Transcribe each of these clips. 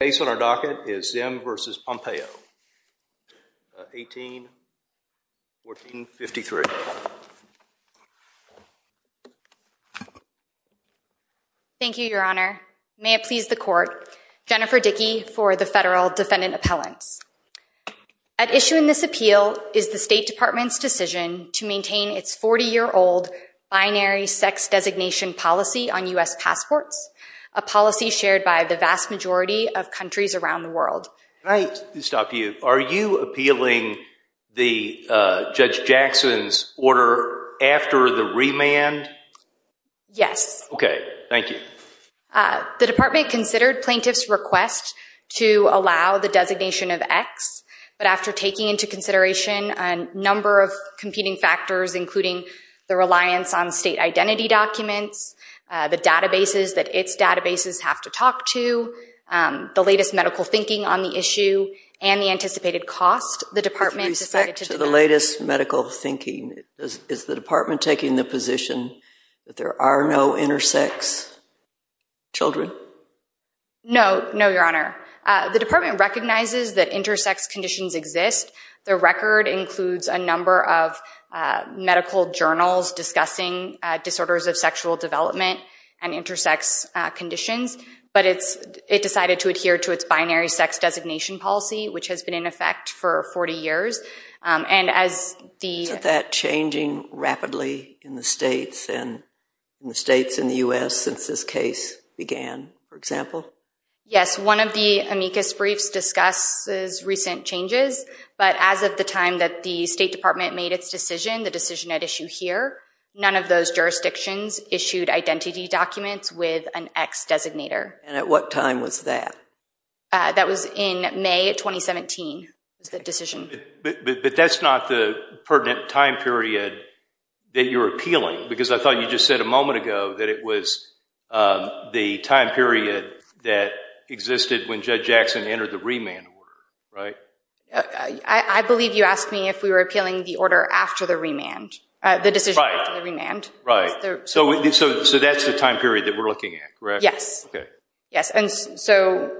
The case on our docket is Zzyym v. Pompeo, 18-1453. Thank you, Your Honor. May it please the Court, Jennifer Dickey for the Federal Defendant Appellants. At issue in this appeal is the State Department's decision to maintain its 40-year-old binary sex designation policy on U.S. passports, a policy shared by the vast majority of countries around the world. Can I stop you? Are you appealing the Judge Jackson's order after the remand? Yes. Okay. Thank you. The Department considered plaintiffs' request to allow the designation of X, but after taking into consideration a number of competing factors, including the reliance on state identity documents, the databases that its databases have to talk to, the latest medical thinking on the issue, and the anticipated cost, the Department decided to decline. With respect to the latest medical thinking, is the Department taking the position that there are no intersex children? No. No, Your Honor. The Department recognizes that intersex conditions exist. The record includes a number of medical journals discussing disorders of sexual development and intersex conditions, but it decided to adhere to its binary sex designation policy, which has been in effect for 40 years. And as the— Isn't that changing rapidly in the states and in the states in the U.S. since this case began, for example? Yes. One of the amicus briefs discusses recent changes, but as of the time that the State Department made its decision, the decision at issue here, none of those jurisdictions issued identity documents with an X designator. And at what time was that? That was in May of 2017, the decision. But that's not the pertinent time period that you're appealing, because I thought you just said a moment ago that it was the time period that existed when Judge Jackson entered the remand order, right? I believe you asked me if we were appealing the order after the remand, the decision after the remand. Right. So that's the time period that we're looking at, correct? Yes. Yes. And so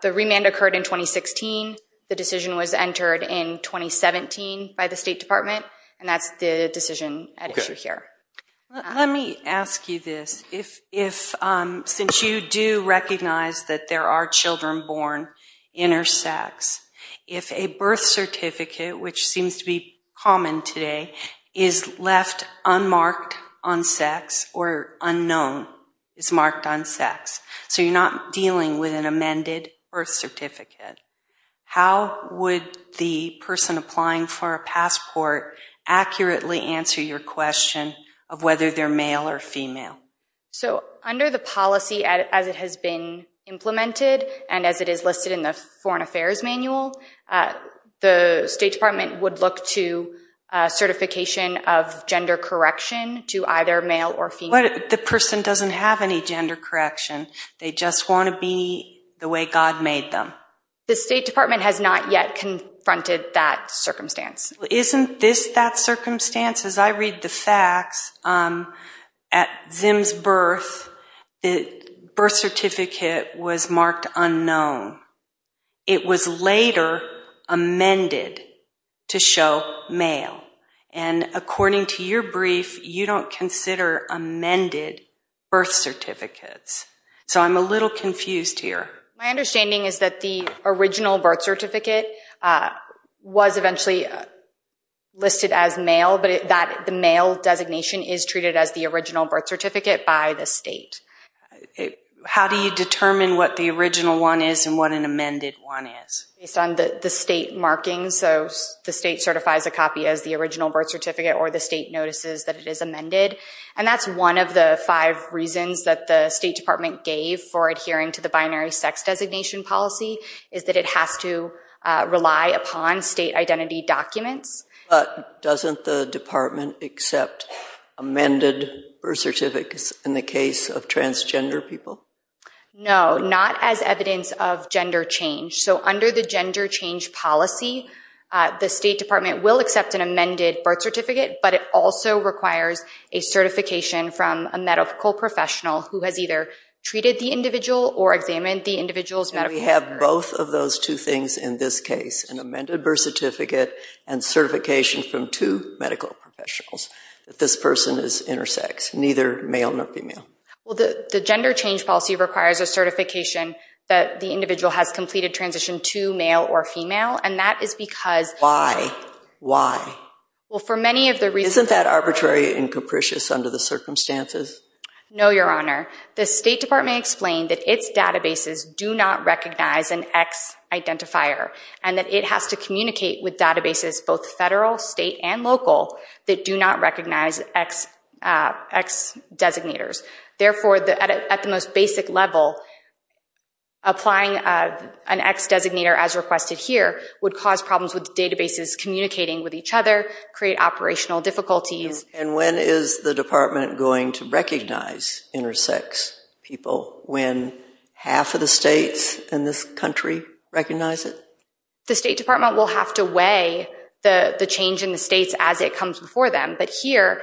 the remand occurred in 2016. The decision was entered in 2017 by the State Department, and that's the decision at issue here. Let me ask you this. Since you do recognize that there are children born intersex, if a birth certificate, which seems to be common today, is left unmarked on sex or unknown, is marked on sex, so you're not dealing with an amended birth certificate, how would the person applying for a passport accurately answer your question of whether they're male or female? So under the policy as it has been implemented, and as it is listed in the Foreign Affairs Manual, the State Department would look to certification of gender correction to either male or female. But the person doesn't have any gender correction. They just want to be the way God made them. The State Department has not yet confronted that circumstance. Isn't this that circumstance? As I read the facts, at Zim's birth, the birth certificate was marked unknown. It was later amended to show male. And according to your brief, you don't consider amended birth certificates. So I'm a little confused here. My understanding is that the original birth certificate was eventually listed as male, but the male designation is treated as the original birth certificate by the state. How do you determine what the original one is and what an amended one is? Based on the state markings. So the state certifies a copy as the original birth certificate, or the state notices that it is amended. And that's one of the five reasons that the State Department gave for adhering to the binary sex designation policy, is that it has to rely upon state identity documents. But doesn't the Department accept amended birth certificates in the case of transgender people? No, not as evidence of gender change. So under the gender change policy, the State Department will accept an amended birth certificate, but it also requires a certification from a medical professional who has either treated the individual or examined the individual's medical records. And we have both of those two things in this case, an amended birth certificate and certification from two medical professionals that this person is intersex, neither male nor female. Well the gender change policy requires a certification that the individual has completed transition to male or female, and that is because... Why? Why? Well for many of the reasons... Isn't that arbitrary and capricious under the circumstances? No, Your Honor. The State Department explained that its databases do not recognize an X-identifier, and that it has to communicate with databases, both federal, state, and local, that do not recognize X-designators. Therefore, at the most basic level, applying an X-designator as requested here would cause problems with databases communicating with each other, create operational difficulties. And when is the Department going to recognize intersex people when half of the states in this country recognize it? The State Department will have to weigh the change in the states as it comes before them, but here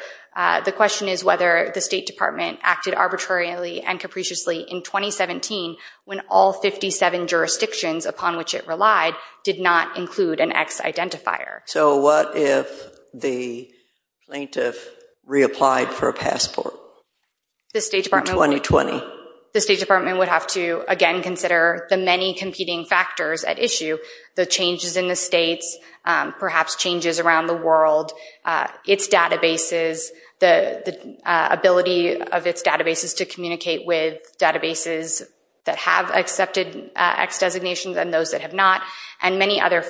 the question is whether the State Department acted arbitrarily and capriciously in 2017 when all 57 jurisdictions upon which it relied did not include an X-identifier. So what if the plaintiff reapplied for a passport in 2020? The State Department would have to again consider the many competing factors at issue, the changes in the states, perhaps changes around the world, its databases, the ability of its databases to communicate with databases that have accepted X-designations and those that have not, and at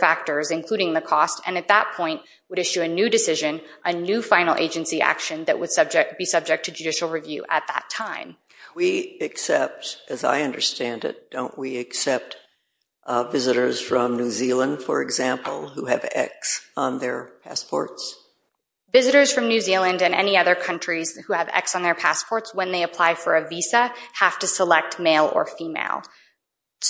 that point would issue a new decision, a new final agency action that would be subject to judicial review at that time. We accept, as I understand it, don't we accept visitors from New Zealand, for example, who have X on their passports? Visitors from New Zealand and any other countries who have X on their passports when they apply for a visa have to select male or female.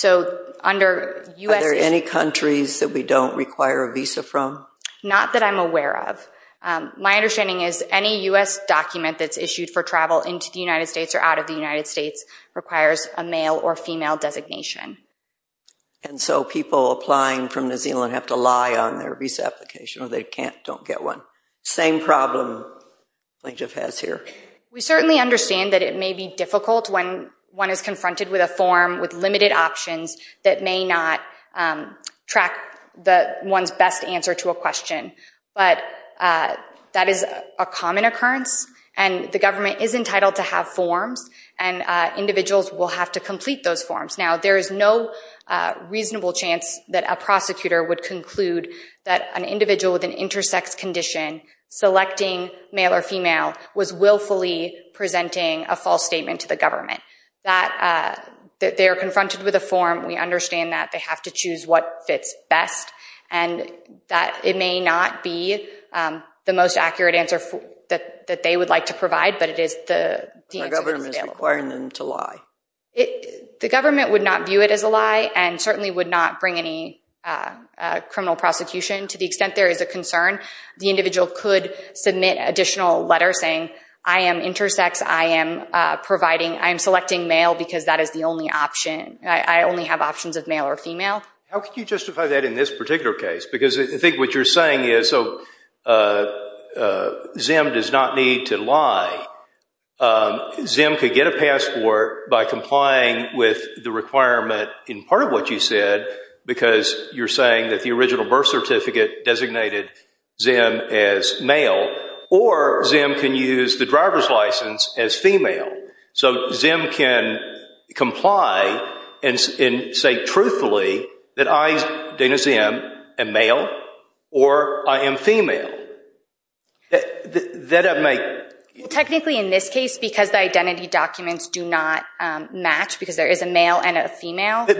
Are there any countries that we don't require a visa from? Not that I'm aware of. My understanding is any U.S. document that's issued for travel into the United States or out of the United States requires a male or female designation. And so people applying from New Zealand have to lie on their visa application or they don't get one. Same problem the plaintiff has here. We certainly understand that it may be difficult when one is confronted with a form with limited options that may not track one's best answer to a question, but that is a common occurrence and the government is entitled to have forms and individuals will have to complete those forms. Now there is no reasonable chance that a prosecutor would conclude that an individual with an X is willfully presenting a false statement to the government, that they are confronted with a form. We understand that they have to choose what fits best and that it may not be the most accurate answer that they would like to provide, but it is the answer that is available. The government is requiring them to lie. The government would not view it as a lie and certainly would not bring any criminal prosecution to the extent there is a concern. The individual could submit additional letters saying, I am intersex, I am selecting male because that is the only option. I only have options of male or female. How can you justify that in this particular case? Because I think what you're saying is, so ZIM does not need to lie, ZIM could get a passport by complying with the requirement in part of what you said because you're saying that the original birth certificate designated ZIM as male, or ZIM can use the driver's license as female. So ZIM can comply and say truthfully that I, Dana Zim, am male or I am female. Technically in this case, because the identity documents do not match, because there is a male and a female. But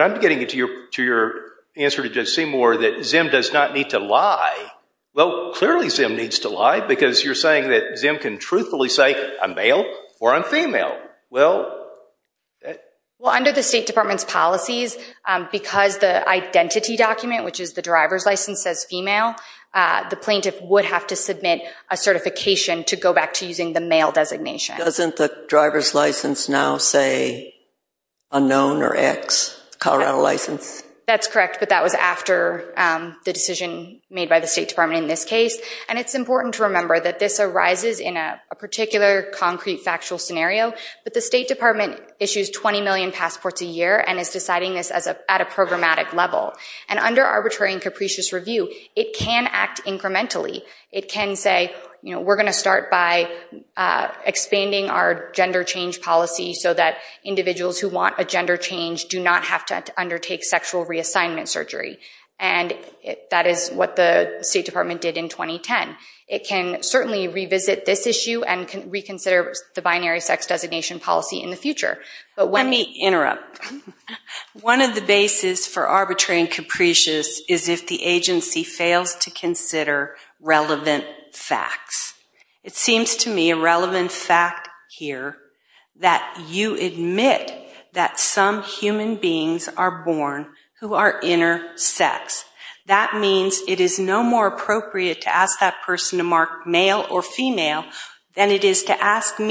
I'm getting to your answer to Judge Seymour that ZIM does not need to lie. Well, clearly ZIM needs to lie because you're saying that ZIM can truthfully say, I'm male or I'm female. Well... Well, under the State Department's policies, because the identity document, which is the driver's license, says female, the plaintiff would have to submit a certification to go back to using the male designation. Doesn't the driver's license now say unknown or X, Colorado license? That's correct. But that was after the decision made by the State Department in this case. And it's important to remember that this arises in a particular concrete factual scenario. But the State Department issues 20 million passports a year and is deciding this at a programmatic level. And under arbitrary and capricious review, it can act incrementally. It can say, we're going to start by expanding our gender change policy so that individuals who want a gender change do not have to undertake sexual reassignment surgery. And that is what the State Department did in 2010. It can certainly revisit this issue and can reconsider the binary sex designation policy in the future. Let me interrupt. One of the bases for arbitrary and capricious is if the agency fails to consider relevant facts. It seems to me a relevant fact here that you admit that some human beings are born who are intersex. That means it is no more appropriate to ask that person to mark male or female than it is to ask that person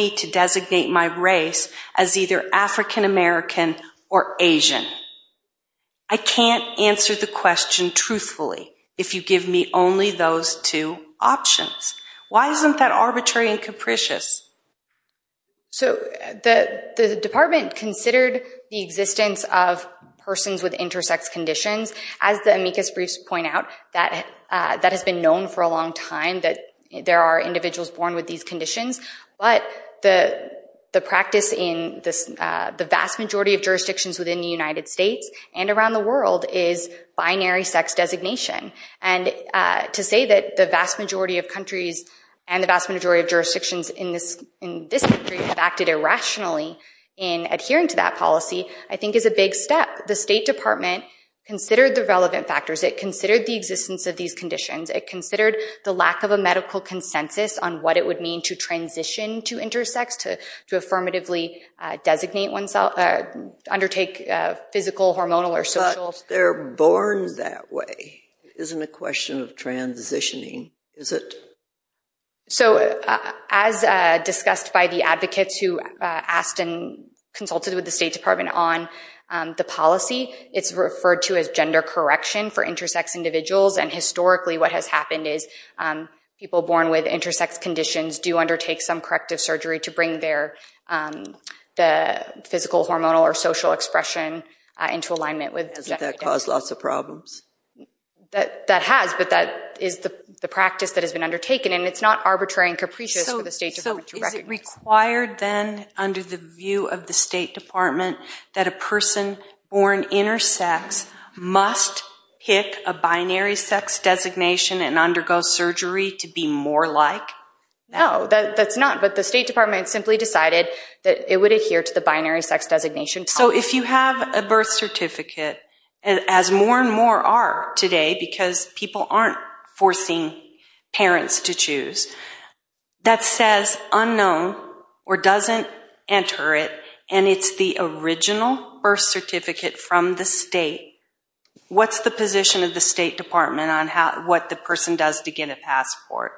to mark Asian or Asian. I can't answer the question truthfully if you give me only those two options. Why isn't that arbitrary and capricious? So the Department considered the existence of persons with intersex conditions. As the amicus briefs point out, that has been known for a long time that there are individuals born with these conditions. But the practice in the vast majority of jurisdictions within the United States and around the world is binary sex designation. And to say that the vast majority of countries and the vast majority of jurisdictions in this country have acted irrationally in adhering to that policy I think is a big step. The State Department considered the relevant factors. It considered the existence of these conditions. It considered the lack of a medical consensus on what it would mean to transition to intersex, to affirmatively designate oneself, undertake physical, hormonal, or social... But they're born that way. It isn't a question of transitioning, is it? So as discussed by the advocates who asked and consulted with the State Department on the policy, it's referred to as gender correction for intersex individuals. And historically what has happened is people born with intersex conditions do undertake some corrective surgery to bring the physical, hormonal, or social expression into alignment with... Hasn't that caused lots of problems? That has. But that is the practice that has been undertaken, and it's not arbitrary and capricious for the State Department to recognize. So is it required then under the view of the State Department that a person born intersex must pick a binary sex designation and undergo surgery to be more like that? No, that's not. But the State Department simply decided that it would adhere to the binary sex designation. So if you have a birth certificate, as more and more are today because people aren't forcing parents to choose, that says unknown or doesn't enter it, and it's the original birth certificate from the state, what's the position of the State Department on what the person does to get a passport?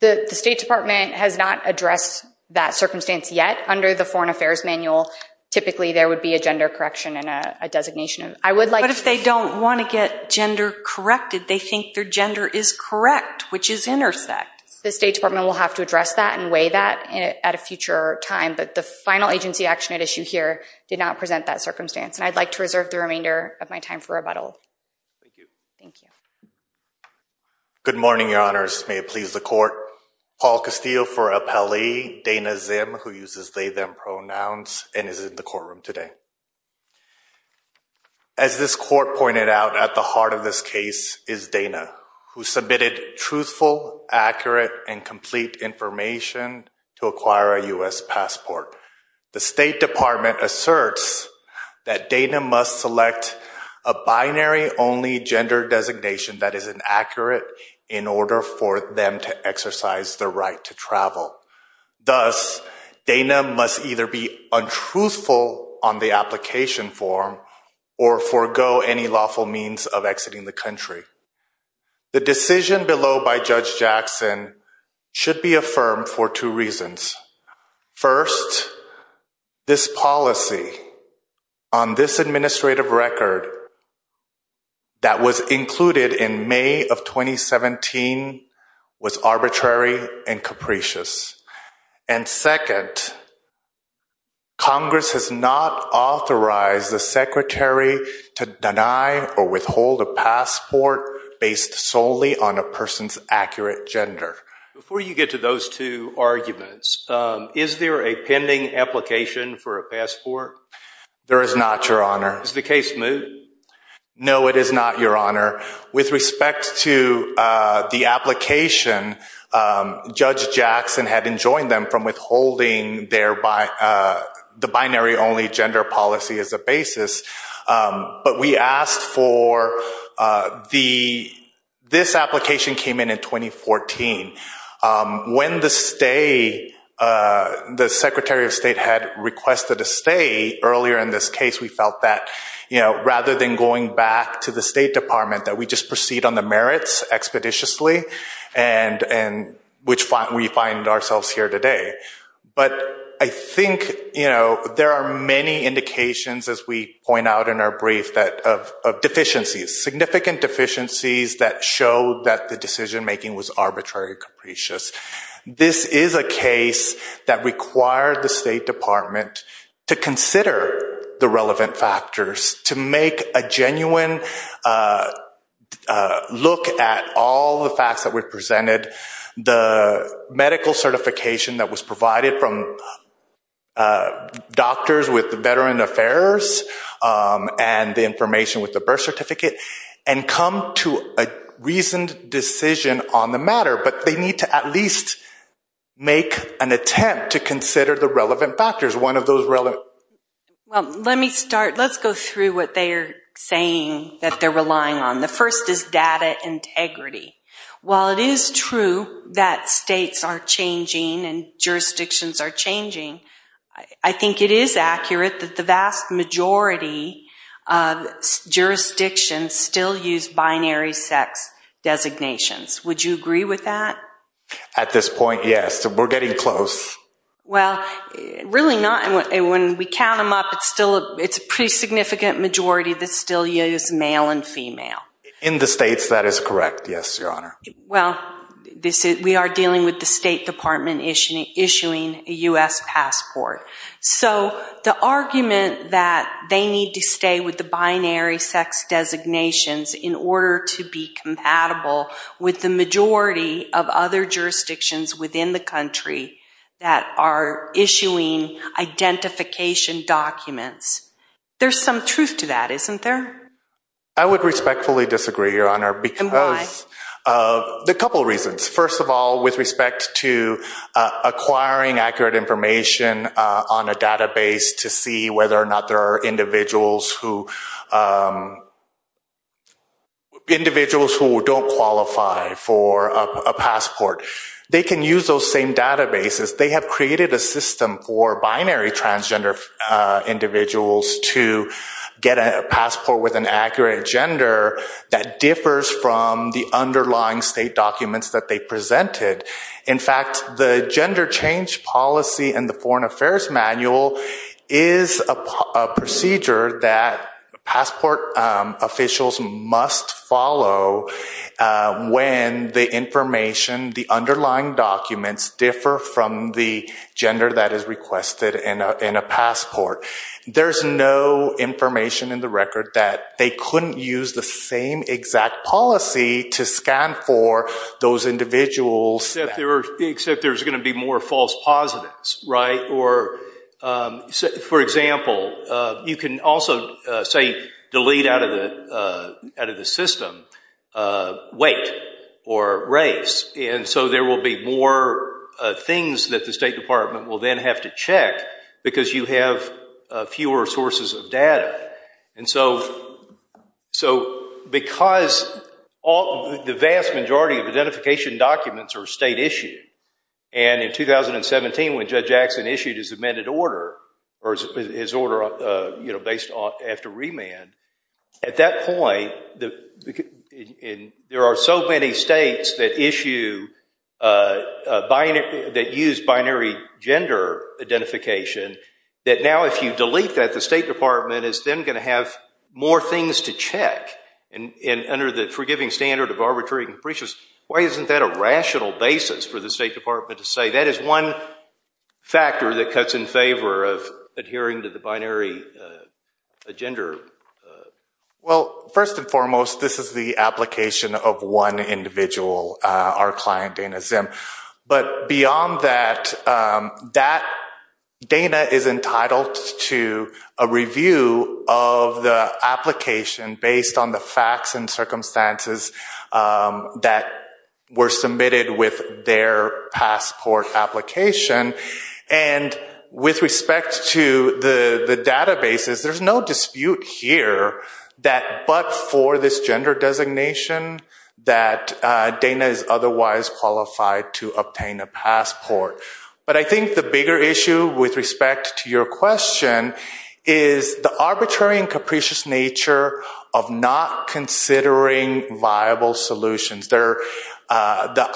The State Department has not addressed that circumstance yet. Under the Foreign Affairs Manual, typically there would be a gender correction and a designation. I would like... But if they don't want to get gender corrected, they think their gender is correct, which is intersex. The State Department will have to address that and weigh that at a future time, but the final agency action at issue here did not present that circumstance. And I'd like to reserve the remainder of my time for rebuttal. Thank you. Thank you. Good morning, Your Honors. May it please the Court. Paul Castillo for appellee, Dana Zim, who uses they-them pronouns, and is in the courtroom today. As this Court pointed out, at the heart of this case is Dana, who submitted truthful, accurate, and complete information to acquire a U.S. passport. The State Department asserts that Dana must select a binary-only gender designation that is inaccurate in order for them to exercise the right to travel. Thus, Dana must either be untruthful on the application form or forego any lawful means of exiting the country. The decision below by Judge Jackson should be affirmed for two reasons. First, this policy on this administrative record that was included in May of 2017 was arbitrary and capricious. And second, Congress has not authorized the Secretary to deny or withhold a passport based solely on a person's accurate gender. Before you get to those two arguments, is there a pending application for a passport? There is not, Your Honor. Is the case moot? No, it is not, Your Honor. With respect to the application, Judge Jackson had enjoined them from withholding the binary-only gender policy as a basis. But we asked for the—this application came in in 2014. When the Secretary of State had requested a stay earlier in this case, we felt that, you know, rather than going back to the State Department, that we just proceed on the merits expeditiously, which we find ourselves here today. But I think, you know, there are many indications, as we point out in our brief, of deficiencies, significant deficiencies that show that the decision-making was arbitrary and capricious. This is a case that required the State Department to consider the relevant factors, to make a genuine look at all the facts that were presented, the medical certification that was provided from doctors with the Veteran Affairs and the information with the birth certificate, and come to a reasoned decision on the matter. But they need to at least make an attempt to consider the relevant factors. One of those relevant— Well, let me start—let's go through what they're saying that they're relying on. The first is data integrity. While it is true that states are changing and jurisdictions are changing, I think it is accurate that the vast majority of jurisdictions still use binary sex designations. Would you agree with that? At this point, yes. We're getting close. Well, really not. When we count them up, it's a pretty significant majority that still use male and female. In the states, that is correct. Well, we are dealing with the State Department issuing a U.S. passport. The argument that they need to stay with the binary sex designations in order to be compatible with the majority of other jurisdictions within the country that are issuing identification documents, there's some truth to that, isn't there? I would respectfully disagree, Your Honor. And why? A couple of reasons. First of all, with respect to acquiring accurate information on a database to see whether or not there are individuals who don't qualify for a passport. They can use those same databases. They have created a system for binary transgender individuals to get a passport with an accurate gender that differs from the underlying state documents that they presented. In fact, the Gender Change Policy and the Foreign Affairs Manual is a procedure that passport officials must follow when the information, the underlying documents, differ from the gender that is requested in a passport. There's no information in the record that they couldn't use the same exact policy to scan for those individuals. Except there's going to be more false positives, right? Or, for example, you can also, say, delete out of the system weight or race. And so there will be more things that the State Department will then have to check because you have fewer sources of data. And so because the vast majority of identification documents are state-issued, and in 2017 when Judge Axson issued his amended order, or his order based after remand, at that point, there are so many states that issue, that use binary gender identification, that now if you delete that, the State Department is then going to have more things to check. And under the forgiving standard of arbitrary capricious, why isn't that a rational basis for the State Department to say that is one factor that cuts in favor of adhering to the binary gender? Well, first and foremost, this is the application of one individual, our client Dana Zim. But beyond that, Dana is entitled to a review of the application based on the facts and circumstances that were submitted with their passport application. And with respect to the databases, there's no dispute here that but for this gender designation that Dana is otherwise qualified to obtain a passport. But I think the bigger issue with respect to your question is the arbitrary and capricious nature of not considering viable solutions. The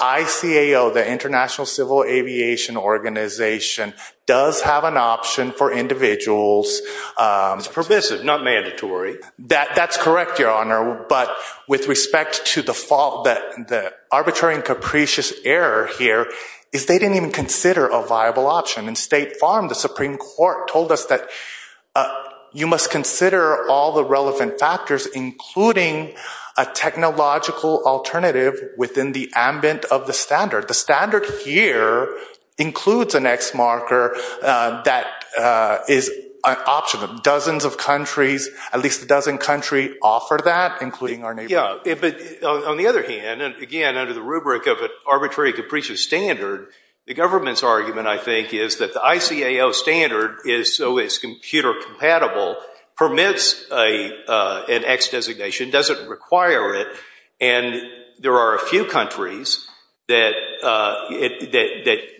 ICAO, the International Civil Aviation Organization, does have an option for individuals. It's pervasive, not mandatory. That's correct, Your Honor. But with respect to the arbitrary and capricious error here, is they didn't even consider a viable option. In State Farm, the Supreme Court told us that you must consider all the relevant factors, including a technological alternative within the ambit of the standard. The standard here includes an X marker that is an option. And dozens of countries, at least a dozen countries, offer that, including our neighbor. Yeah. But on the other hand, and again, under the rubric of an arbitrary and capricious standard, the government's argument, I think, is that the ICAO standard, so it's computer compatible, permits an X designation, doesn't require it. And there are a few countries that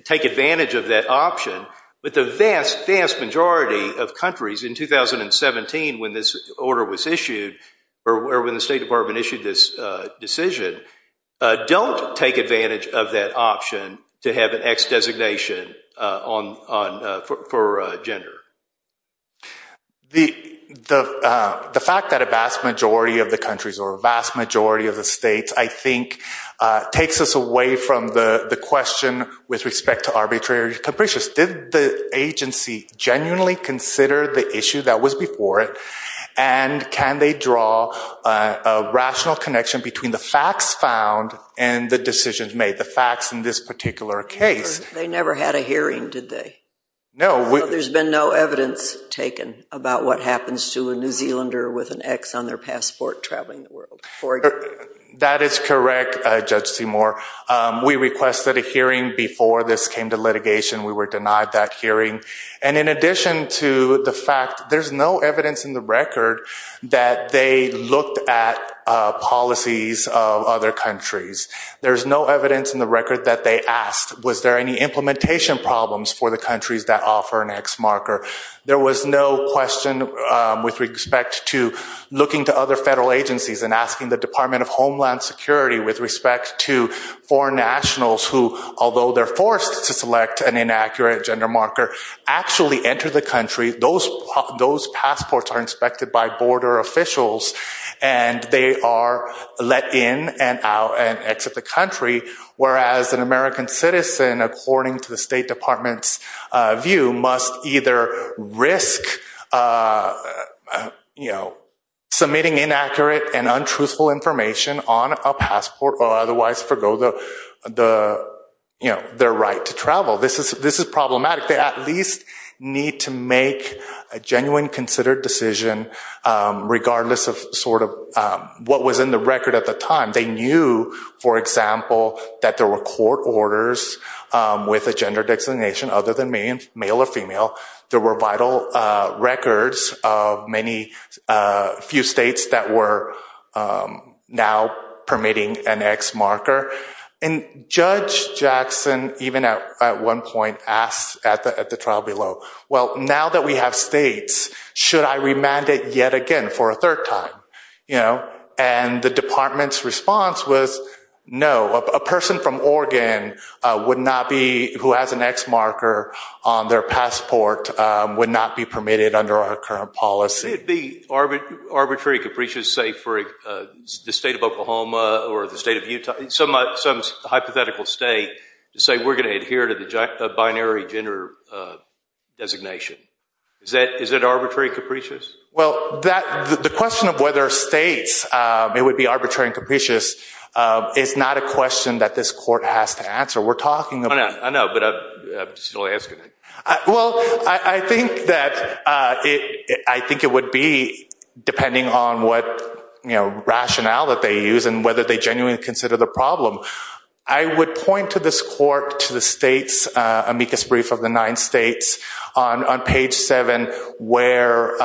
take advantage of that option. But the vast, vast majority of countries in 2017, when this order was issued, or when the State Department issued this decision, don't take advantage of that option to have an X designation for gender. The fact that a vast majority of the countries, or a vast majority of the states, I think takes us away from the question with respect to arbitrary and capricious. Did the agency genuinely consider the issue that was before it? And can they draw a rational connection between the facts found and the decisions made, the facts in this particular case? They never had a hearing, did they? No. There's been no evidence taken about what happens to a New Zealander with an X on their passport traveling the world. That is correct, Judge Seymour. We requested a hearing before this came to litigation. We were denied that hearing. And in addition to the fact, there's no evidence in the record that they looked at policies of other countries. There's no evidence in the record that they asked, was there any implementation problems for the countries that offer an X marker? There was no question with respect to looking to other federal agencies and asking the Department of Homeland Security with respect to foreign nationals who, although they're forced to select an inaccurate gender marker, actually enter the country, those passports are inspected by border officials, and they are let in and out and exit the country. Whereas an American citizen, according to the State Department's view, must either risk submitting inaccurate and untruthful information on a passport or otherwise forego their right to travel. This is problematic. They at least need to make a genuine, considered decision regardless of what was in the record at the time. They knew, for example, that there were court orders with a gender designation other than male or female. There were vital records of many few states that were now permitting an X marker. And Judge Jackson, even at one point, asked at the trial below, well, now that we have states, should I remand it yet again for a third time? And the department's response was, no. A person from Oregon who has an X marker on their passport would not be permitted under our current policy. Could it be arbitrary, capricious, say, for the state of Oklahoma or the state of Utah, some hypothetical state, to say we're going to adhere to the binary gender designation? Is it arbitrary, capricious? Well, the question of whether states, it would be arbitrary and capricious, is not a question that this court has to answer. We're talking about- I know, but I'm just only asking. Well, I think it would be, depending on what rationale that they use and whether they genuinely consider the problem. I would point to this court, to the state's amicus brief of the nine states on page seven where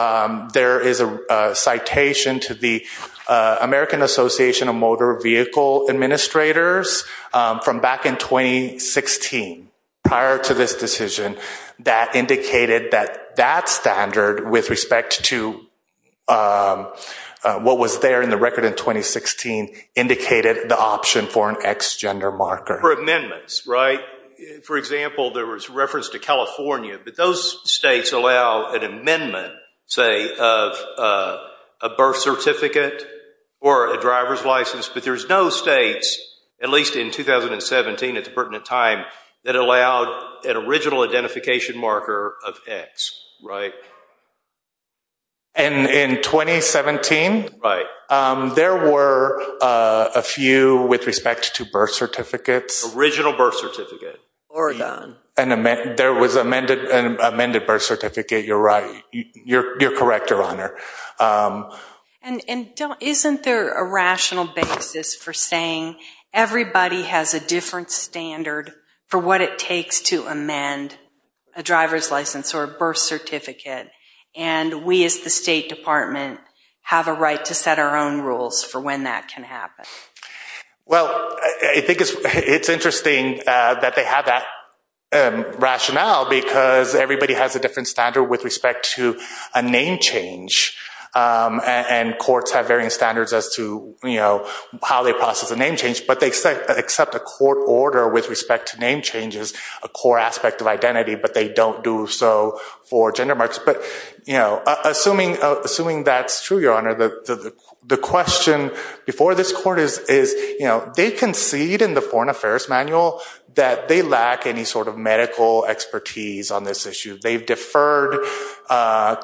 there is a citation to the American Association of Motor Vehicle Administrators from back in 2016, prior to this decision, that indicated that that standard, with respect to what was there in the record in 2016, indicated the option for an X gender marker. For amendments, right? For example, there was reference to California, but those states allow an amendment, say, of a birth certificate or a driver's license, but there's no states, at least in 2017 at the pertinent time, that allowed an original identification marker of X, right? In 2017, there were a few with respect to birth certificates. Original birth certificate. Oregon. There was an amended birth certificate. You're right. You're correct, Your Honor. Isn't there a rational basis for saying everybody has a different standard for what it takes to amend a driver's license or a birth certificate, and we as the State Department have a right to set our own rules for when that can happen? Well, I think it's interesting that they have that rationale because everybody has a different standard with respect to a name change, and courts have varying standards as to how they process a name change. But they accept a court order with respect to name changes, a core aspect of identity, but they don't do so for gender marks. Assuming that's true, Your Honor, the question before this court is, they concede in the Foreign Affairs Manual that they lack any sort of medical expertise on this issue. They've deferred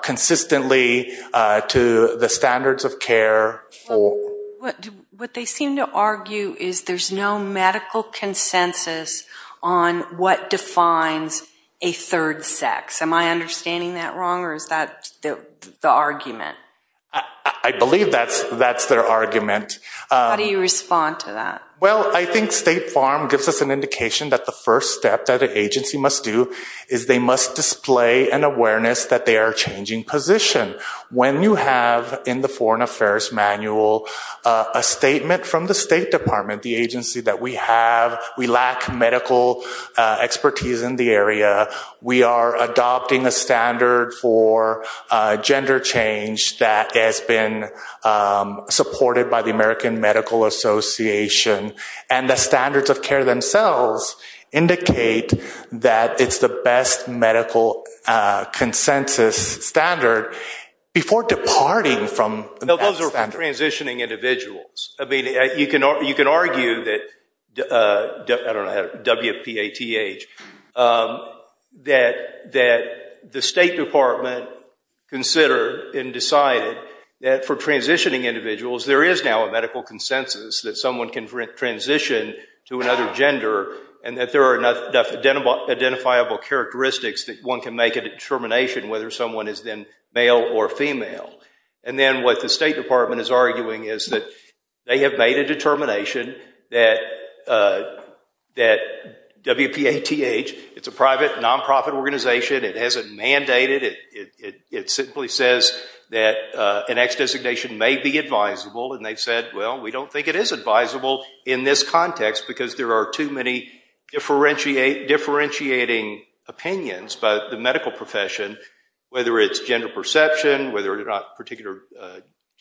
consistently to the standards of care. What they seem to argue is there's no medical consensus on what defines a third sex. Am I understanding that wrong, or is that the argument? I believe that's their argument. How do you respond to that? Well, I think State Farm gives us an indication that the first step that an agency must do is they must display an awareness that they are changing position. When you have in the Foreign Affairs Manual a statement from the State Department, the agency that we have, we lack medical expertise in the area. We are adopting a standard for gender change that has been supported by the American Medical Association, and the standards of care themselves indicate that it's the best medical consensus transitioning individuals. You can argue that the State Department considered and decided that for transitioning individuals, there is now a medical consensus that someone can transition to another gender and that there are enough identifiable characteristics that one can make a determination whether someone is then male or female. Then what the State Department is arguing is that they have made a determination that WPATH, it's a private non-profit organization, it hasn't mandated it, it simply says that an ex-designation may be advisable, and they've said, well, we don't think it is advisable in this context because there are too many differentiating opinions about the medical profession, whether it's gender perception, whether it's particular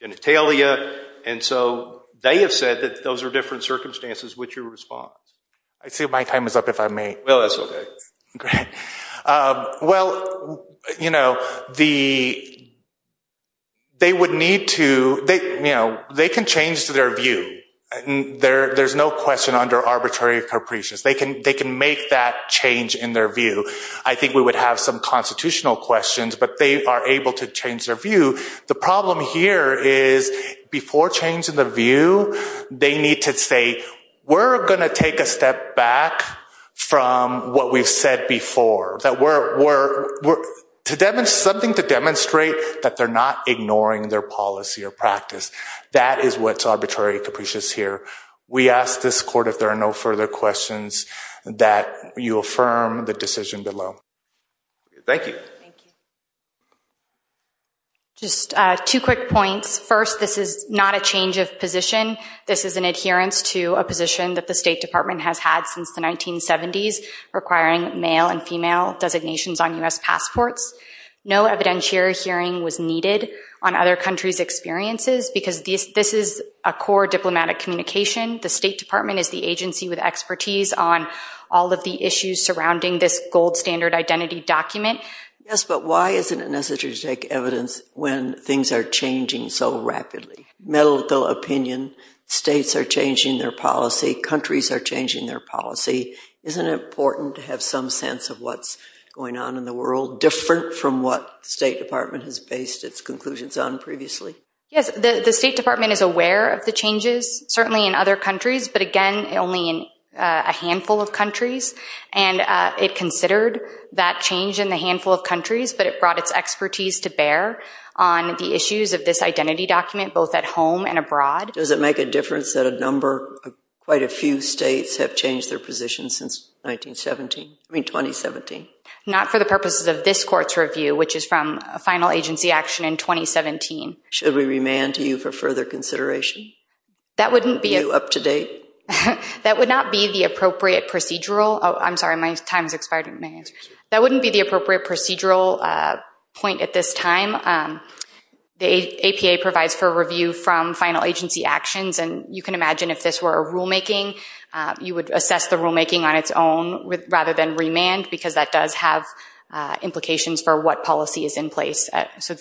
genitalia, and so they have said that those are different circumstances. What's your response? I see my time is up, if I may. Well, that's okay. Well, you know, they would need to, you know, they can change their view. There's no question under arbitrary capricious. They can make that change in their view. I think we would have some constitutional questions, but they are able to change their view. The problem here is before changing the view, they need to say, we're going to take a step back from what we've said before. Something to demonstrate that they're not ignoring their policy or practice. That is what's arbitrary capricious here. We ask this court if there are no further questions that you affirm the decision below. Thank you. Just two quick points. First, this is not a change of position. This is an adherence to a position that the State Department has had since the 1970s requiring male and female designations on U.S. passports. No evidentiary hearing was needed on other countries' experiences because this is a core diplomatic communication. The State Department is the agency with expertise on all of the issues surrounding this gold standard identity document. Yes, but why isn't it necessary to take evidence when things are changing so rapidly? Medical opinion, states are changing their policy, countries are changing their policy. Isn't it important to have some sense of what's going on in the world different from what the State Department has based its conclusions on previously? Yes, the State Department is aware of the changes, certainly in other countries, but again, only in a handful of countries. And it considered that change in the handful of countries, but it brought its expertise to bear on the issues of this identity document both at home and abroad. Does it make a difference that a number, quite a few states have changed their positions since 1917, I mean 2017? Not for the purposes of this court's review, which is from a final agency action in 2017. Should we remand to you for further consideration? That wouldn't be... Are you up to date? That would not be the appropriate procedural... I'm sorry, my time's expired. That wouldn't be the appropriate procedural point at this time. The APA provides for review from final agency actions, and you can imagine if this were a rulemaking, you would assess the rulemaking on its own rather than remand because that does have implications for what policy is in place. So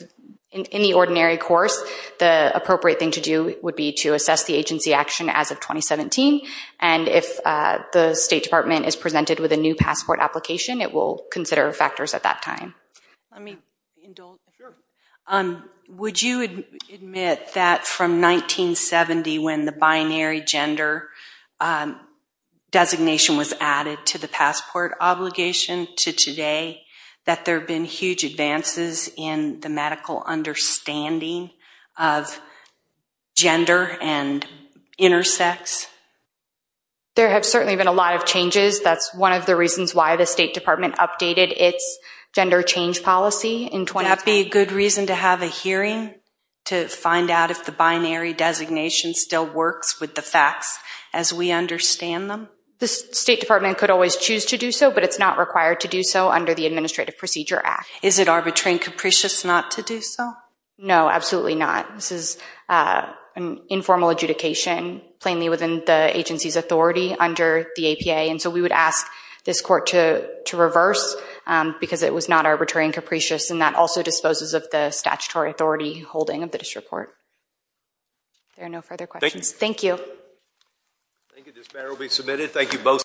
in the ordinary course, the appropriate thing to do would be to assess the agency action as of 2017. And if the State Department is presented with a new passport application, it will consider factors at that time. Let me indulge. Would you admit that from 1970 when the binary gender designation was added to the passport obligation to today that there have been huge advances in the medical understanding of gender and intersex? There have certainly been a lot of changes. That's one of the reasons why the State Department updated its gender change policy in 2010. Would that be a good reason to have a hearing to find out if the binary designation still works with the facts as we understand them? The State Department could always choose to do so, but it's not required to do so under the Administrative Procedure Act. Is it arbitrary and capricious not to do so? No, absolutely not. This is an informal adjudication, plainly within the agency's authority under the APA. And so we would ask this Court to reverse because it was not arbitrary and capricious, and that also disposes of the statutory authority holding of the district court. There are no further questions. Thank you. I think that this matter will be submitted. Thank you both.